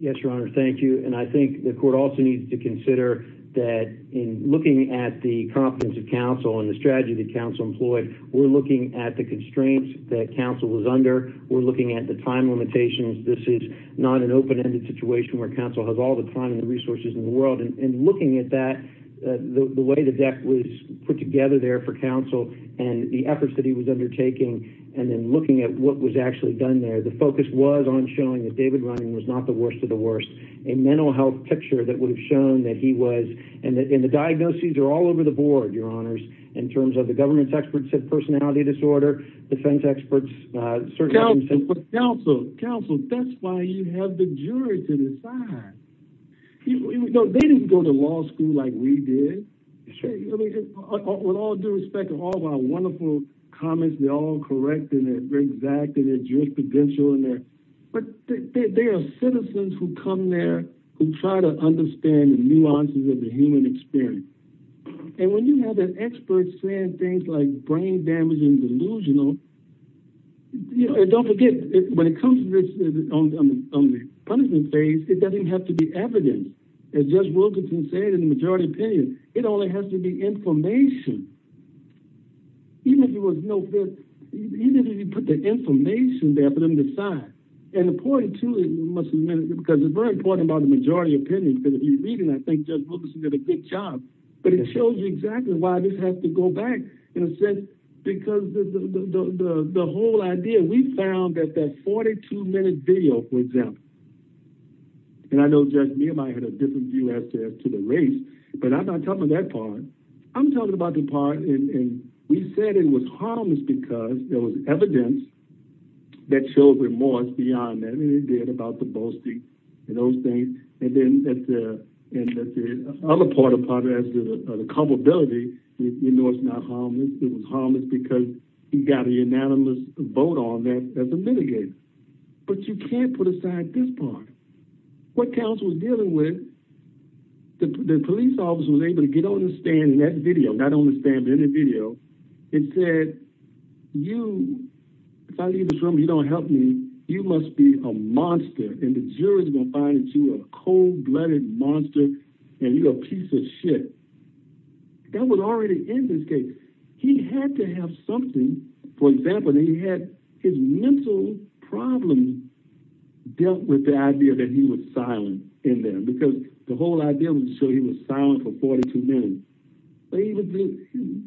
Yes, Your Honor, thank you. And I think the court also needs to consider that in looking at the competence of counsel and the strategy that counsel employed, we're looking at the constraints that counsel was under. We're looking at the time limitations. This is not an open-ended situation where counsel has all the time and the resources in the world. And looking at that, the way the deck was put together there for counsel and the efforts that he was undertaking, and then looking at what was actually done there, the focus was on showing that David Rynan was not the worst of the worst, a mental health picture that would have shown that he was. And the diagnoses are all over the board, Your Honors, in terms of the government's experts of personality disorder, defense experts, surgeons. But counsel, that's why you have the jury to decide. They didn't go to law school like we did. With all due respect to all of our wonderful comments, they're all correct, and they're very exact, and they're jurisprudential. But they are citizens who come there who try to understand the nuances of the human experience. And when you have an expert saying things like brain damage and delusional, don't forget, when it comes to this on the punishment phase, it doesn't have to be evidence. As Judge Wilkinson said in the majority opinion, it only has to be information. Even if you put the information there for them to decide. And the point, too, because it's very important about the majority opinion, because if you're reading, I think Judge Wilkinson did a good job. But it shows you exactly why this has to go back, in a sense, because the whole idea, we found that that 42-minute video, for example. And I know Judge Mead and I had a different view as to the race, but I'm not talking about that part. I'm talking about the part, and we said it was harmless because there was evidence that showed remorse beyond that. And it did about the boasting and those things. And then at the other part of the probability, we know it's not harmless. It was harmless because he got a unanimous vote on that as a mitigator. But you can't put aside this part. What counsel was dealing with, the police officer was able to get on the stand in that video, not on the stand, but in the video, and said, you, if I leave this room and you don't help me, you must be a monster. And the jury's going to find that you're a cold-blooded monster, and you're a piece of shit. That was already in this case. He had to have something. For example, he had his mental problems dealt with the idea that he was silent in there because the whole idea was to show he was silent for 42 minutes. So he was just, hmm.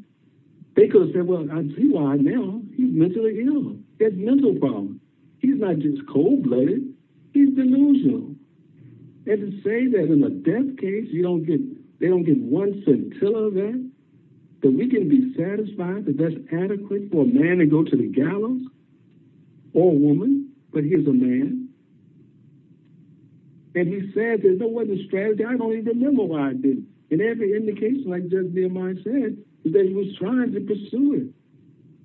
They could have said, well, I see why now. He's mentally ill. He has mental problems. He's not just cold-blooded. He's delusional. And to say that in a death case, you don't get, they don't get one scintilla of that, that we can be satisfied that that's adequate for a man to go to the gallows, or a woman, but he's a man. And he said there's no other strategy. I don't even know why I did it. And every indication, like Judge Nehemiah said, is that he was trying to pursue it.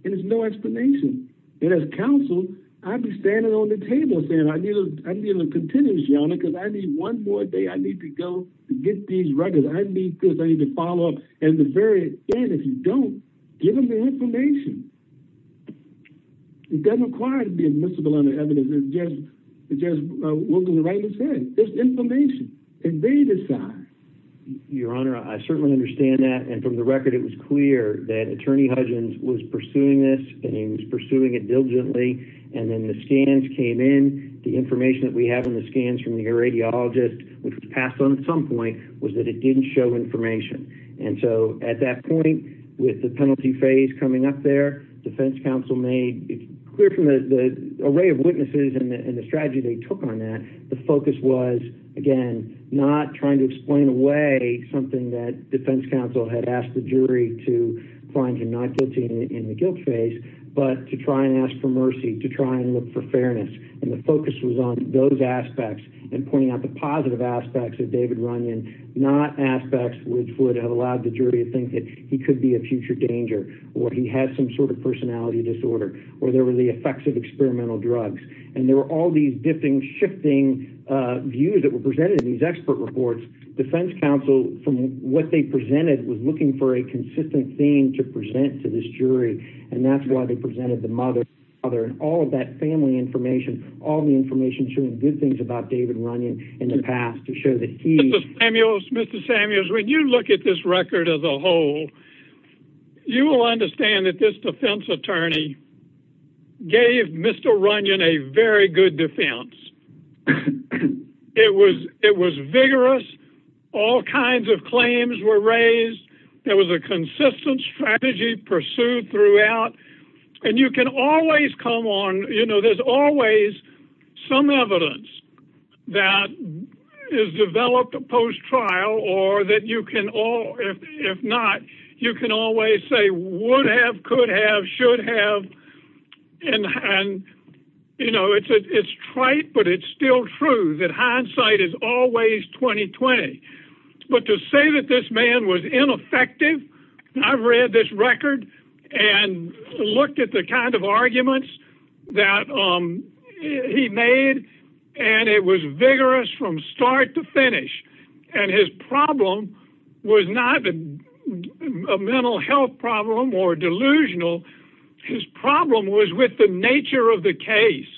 And there's no explanation. And as counsel, I'd be standing on the table saying I need a little continuity on it because I need one more day. I need to go get these records. I need this. I need to follow up. And at the very end, if you don't, give them the information. It doesn't require to be admissible under evidence. It's just what the writer said. It's information. And they decide. Your Honor, I certainly understand that. And from the record, it was clear that Attorney Hudgens was pursuing this and he was pursuing it diligently. And then the scans came in. The information that we have in the scans from the radiologist, which was passed on at some point, was that it didn't show information. And so at that point, with the penalty phase coming up there, defense counsel made clear from the array of witnesses and the strategy they took on that, something that defense counsel had asked the jury to find a non-guilty in the guilt phase, but to try and ask for mercy, to try and look for fairness. And the focus was on those aspects and pointing out the positive aspects of David Runyon, not aspects which would have allowed the jury to think that he could be a future danger or he had some sort of personality disorder or there were the effects of experimental drugs. And there were all these shifting views that were presented in these expert reports. Defense counsel, from what they presented, was looking for a consistent theme to present to this jury. And that's why they presented the mother and all of that family information, all the information showing good things about David Runyon in the past to show that he... Mr. Samuels, Mr. Samuels, when you look at this record as a whole, you will understand that this defense attorney gave Mr. Runyon a very good defense. It was vigorous. All kinds of claims were raised. There was a consistent strategy pursued throughout. And you can always come on... You know, there's always some evidence that is developed post-trial or that you can all... If not, you can always say, would have, could have, should have. And, you know, it's trite, but it's still true that hindsight is always 20-20. But to say that this man was ineffective... I've read this record and looked at the kind of arguments that he made, and it was vigorous from start to finish. And his problem was not a mental health problem or delusional. His problem was with the nature of the case,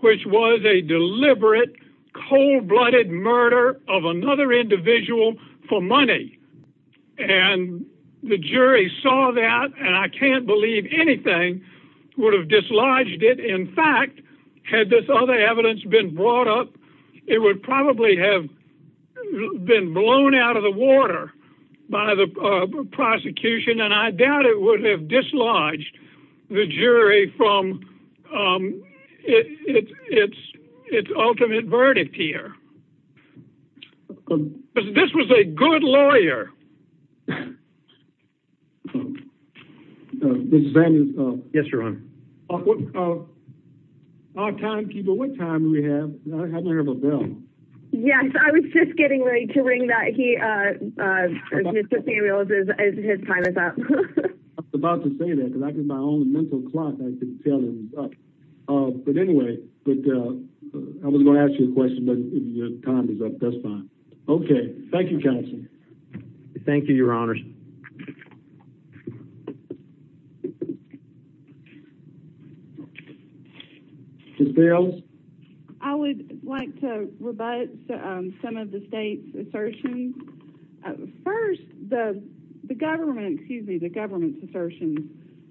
which was a deliberate, cold-blooded murder of another individual for money. And the jury saw that, and I can't believe anything would have dislodged it. In fact, had this other evidence been brought up, it would probably have been blown out of the water by the prosecution, and I doubt it would have dislodged the jury from its ultimate verdict here. This was a good lawyer. Mr. Samuels? Yes, Your Honor. Our timekeeper, what time do we have? I haven't heard of a bell. Yes, I was just getting ready to ring that. Mr. Samuels, his time is up. I was about to say that, because my own mental clock, I could tell it was up. But anyway, I was going to ask you a question, but your time is up. That's fine. Okay. Thank you, counsel. Thank you, Your Honor. Ms. Bales? I would like to rebut some of the state's assertions. First, the government's assertions.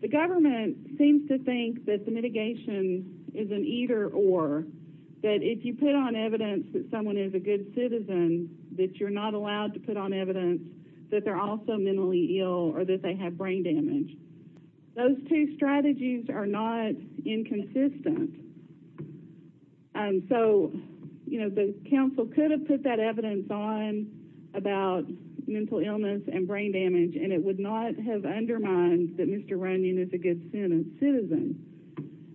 The government seems to think that the mitigation is an either-or, that if you put on evidence that someone is a good citizen, that you're not allowed to put on evidence that they're also mentally ill or that they have brain damage. Those two strategies are not inconsistent. And so, you know, the counsel could have put that evidence on about mental illness and brain damage, and it would not have undermined that Mr. Runyon is a good citizen.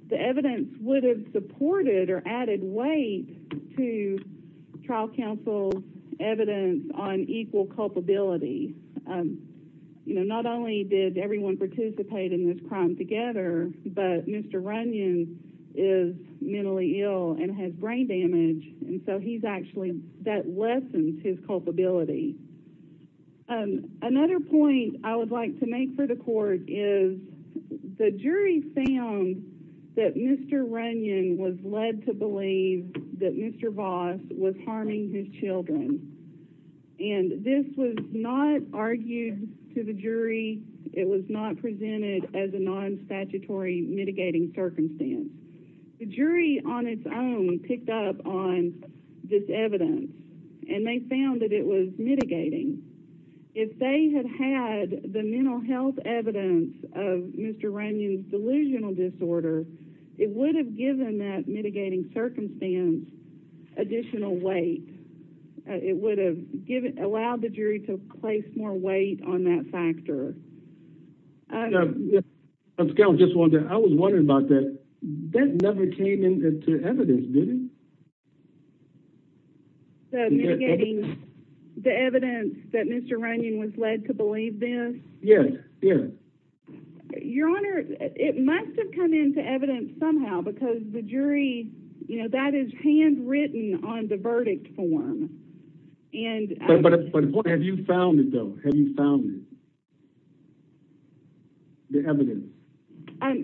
The evidence would have supported or added weight to trial counsel's evidence on equal culpability. You know, not only did everyone participate in this crime together, but Mr. Runyon is mentally ill and has brain damage, and so he's actually, that lessens his culpability. Another point I would like to make for the court is the jury found that Mr. Runyon was led to believe that Mr. Voss was harming his children. And this was not argued to the jury. It was not presented as a non-statutory mitigating circumstance. The jury on its own picked up on this evidence, and they found that it was mitigating. If they had had the mental health evidence of Mr. Runyon's delusional disorder, it would have given that mitigating circumstance additional weight. It would have allowed the jury to place more weight on that factor. I was wondering about that. That never came into evidence, did it? So mitigating the evidence that Mr. Runyon was led to believe this? Yes, yes. Your Honor, it must have come into evidence somehow because the jury, you know, that is handwritten on the verdict form. But have you found it, though? Have you found it, the evidence?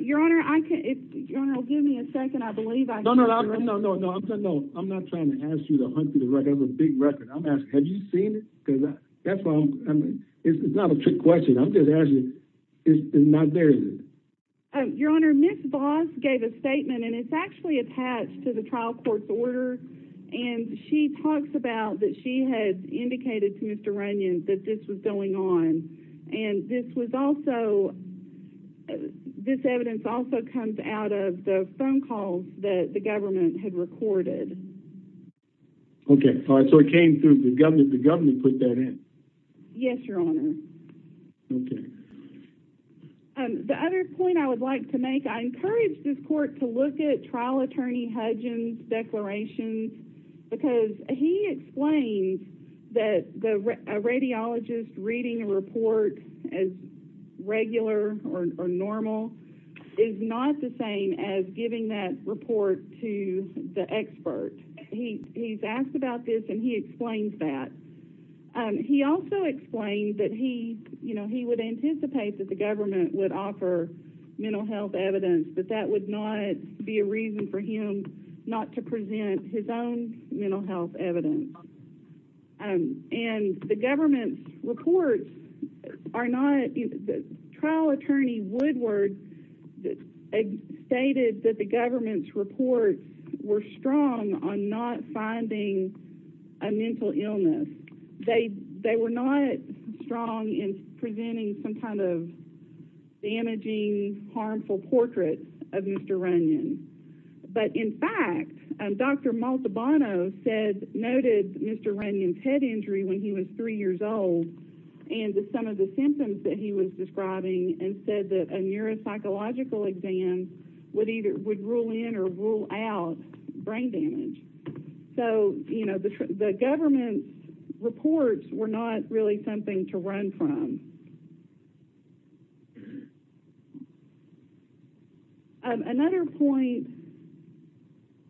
Your Honor, I can't. Your Honor, give me a second. I believe I can. No, no, no. I'm not trying to ask you to hunt for the record. I have a big record. I'm asking, have you seen it? It's not a trick question. I'm just asking. It's not there, is it? Your Honor, Ms. Voss gave a statement, and it's actually attached to the trial court's order. And she talks about that she had indicated to Mr. Runyon that this was going on. And this was also – this evidence also comes out of the phone calls that the government had recorded. Okay. So it came through. The government put that in? Yes, Your Honor. Okay. The other point I would like to make, I encourage this court to look at trial attorney Hudgins' declarations because he explains that a radiologist reading a report as regular or normal is not the same as giving that report to the expert. He's asked about this, and he explains that. He also explained that he would anticipate that the government would offer mental health evidence, but that would not be a reason for him not to present his own mental health evidence. And the government's reports are not – they were not strong in presenting some kind of damaging, harmful portrait of Mr. Runyon. But in fact, Dr. Maltabano noted Mr. Runyon's head injury when he was 3 years old and some of the symptoms that he was describing and said that a neuropsychological exam would rule in or rule out brain damage. So, you know, the government's reports were not really something to run from. Another point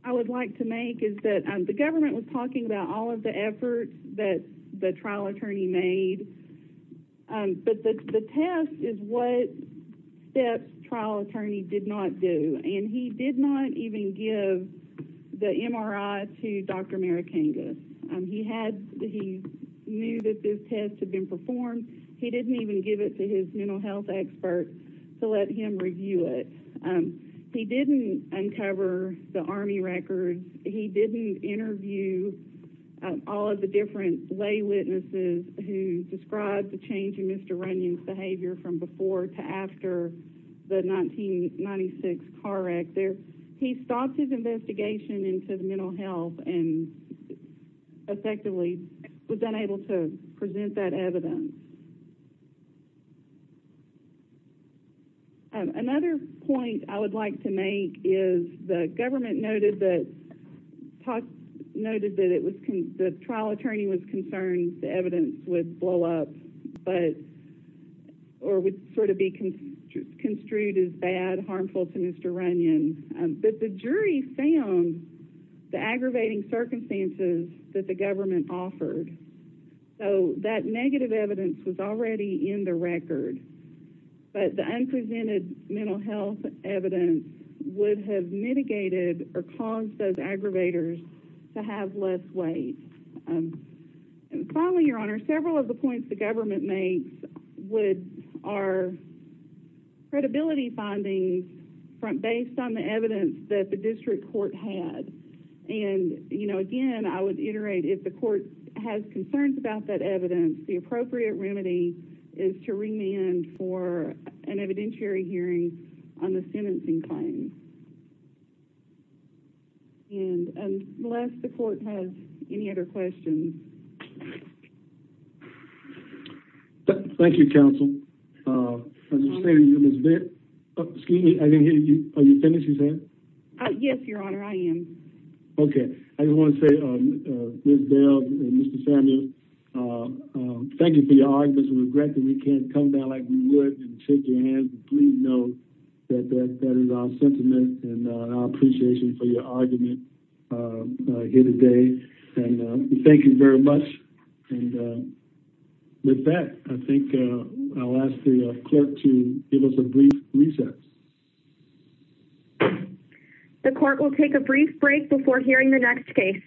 I would like to make is that the government was talking about all of the efforts that the trial attorney made, but the test is what the trial attorney did not do. And he did not even give the MRI to Dr. Marikanga. He knew that this test had been performed. He didn't even give it to his mental health expert to let him review it. He didn't uncover the Army records. He didn't interview all of the different lay witnesses who described the change in Mr. Runyon's behavior from before to after the 1996 CAR Act. He stopped his investigation into the mental health and effectively was unable to present that evidence. Another point I would like to make is the government noted that the trial attorney was concerned the evidence would blow up or would sort of be construed as bad, harmful to Mr. Runyon, but the jury found the aggravating circumstances that the government offered. So that negative evidence was already in the record, but the unpresented mental health evidence would have mitigated or caused those aggravators to have less weight. And finally, Your Honor, several of the points the government makes are credibility findings based on the evidence that the district court had. And again, I would iterate if the court has concerns about that evidence, the appropriate remedy is to remand for an evidentiary hearing on the sentencing claim. And unless the court has any other questions. Thank you, counsel. Excuse me, I didn't hear you. Are you finished, you said? Yes, Your Honor, I am. Okay, I just want to say, Ms. Bell and Mr. Samuel, thank you for your arguments. We regret that we can't come down like we would and shake your hands and please know that that is our sentiment and our appreciation for your argument here today. And thank you very much. And with that, I think I'll ask the clerk to give us a brief recess. The court will take a brief break before hearing the next case.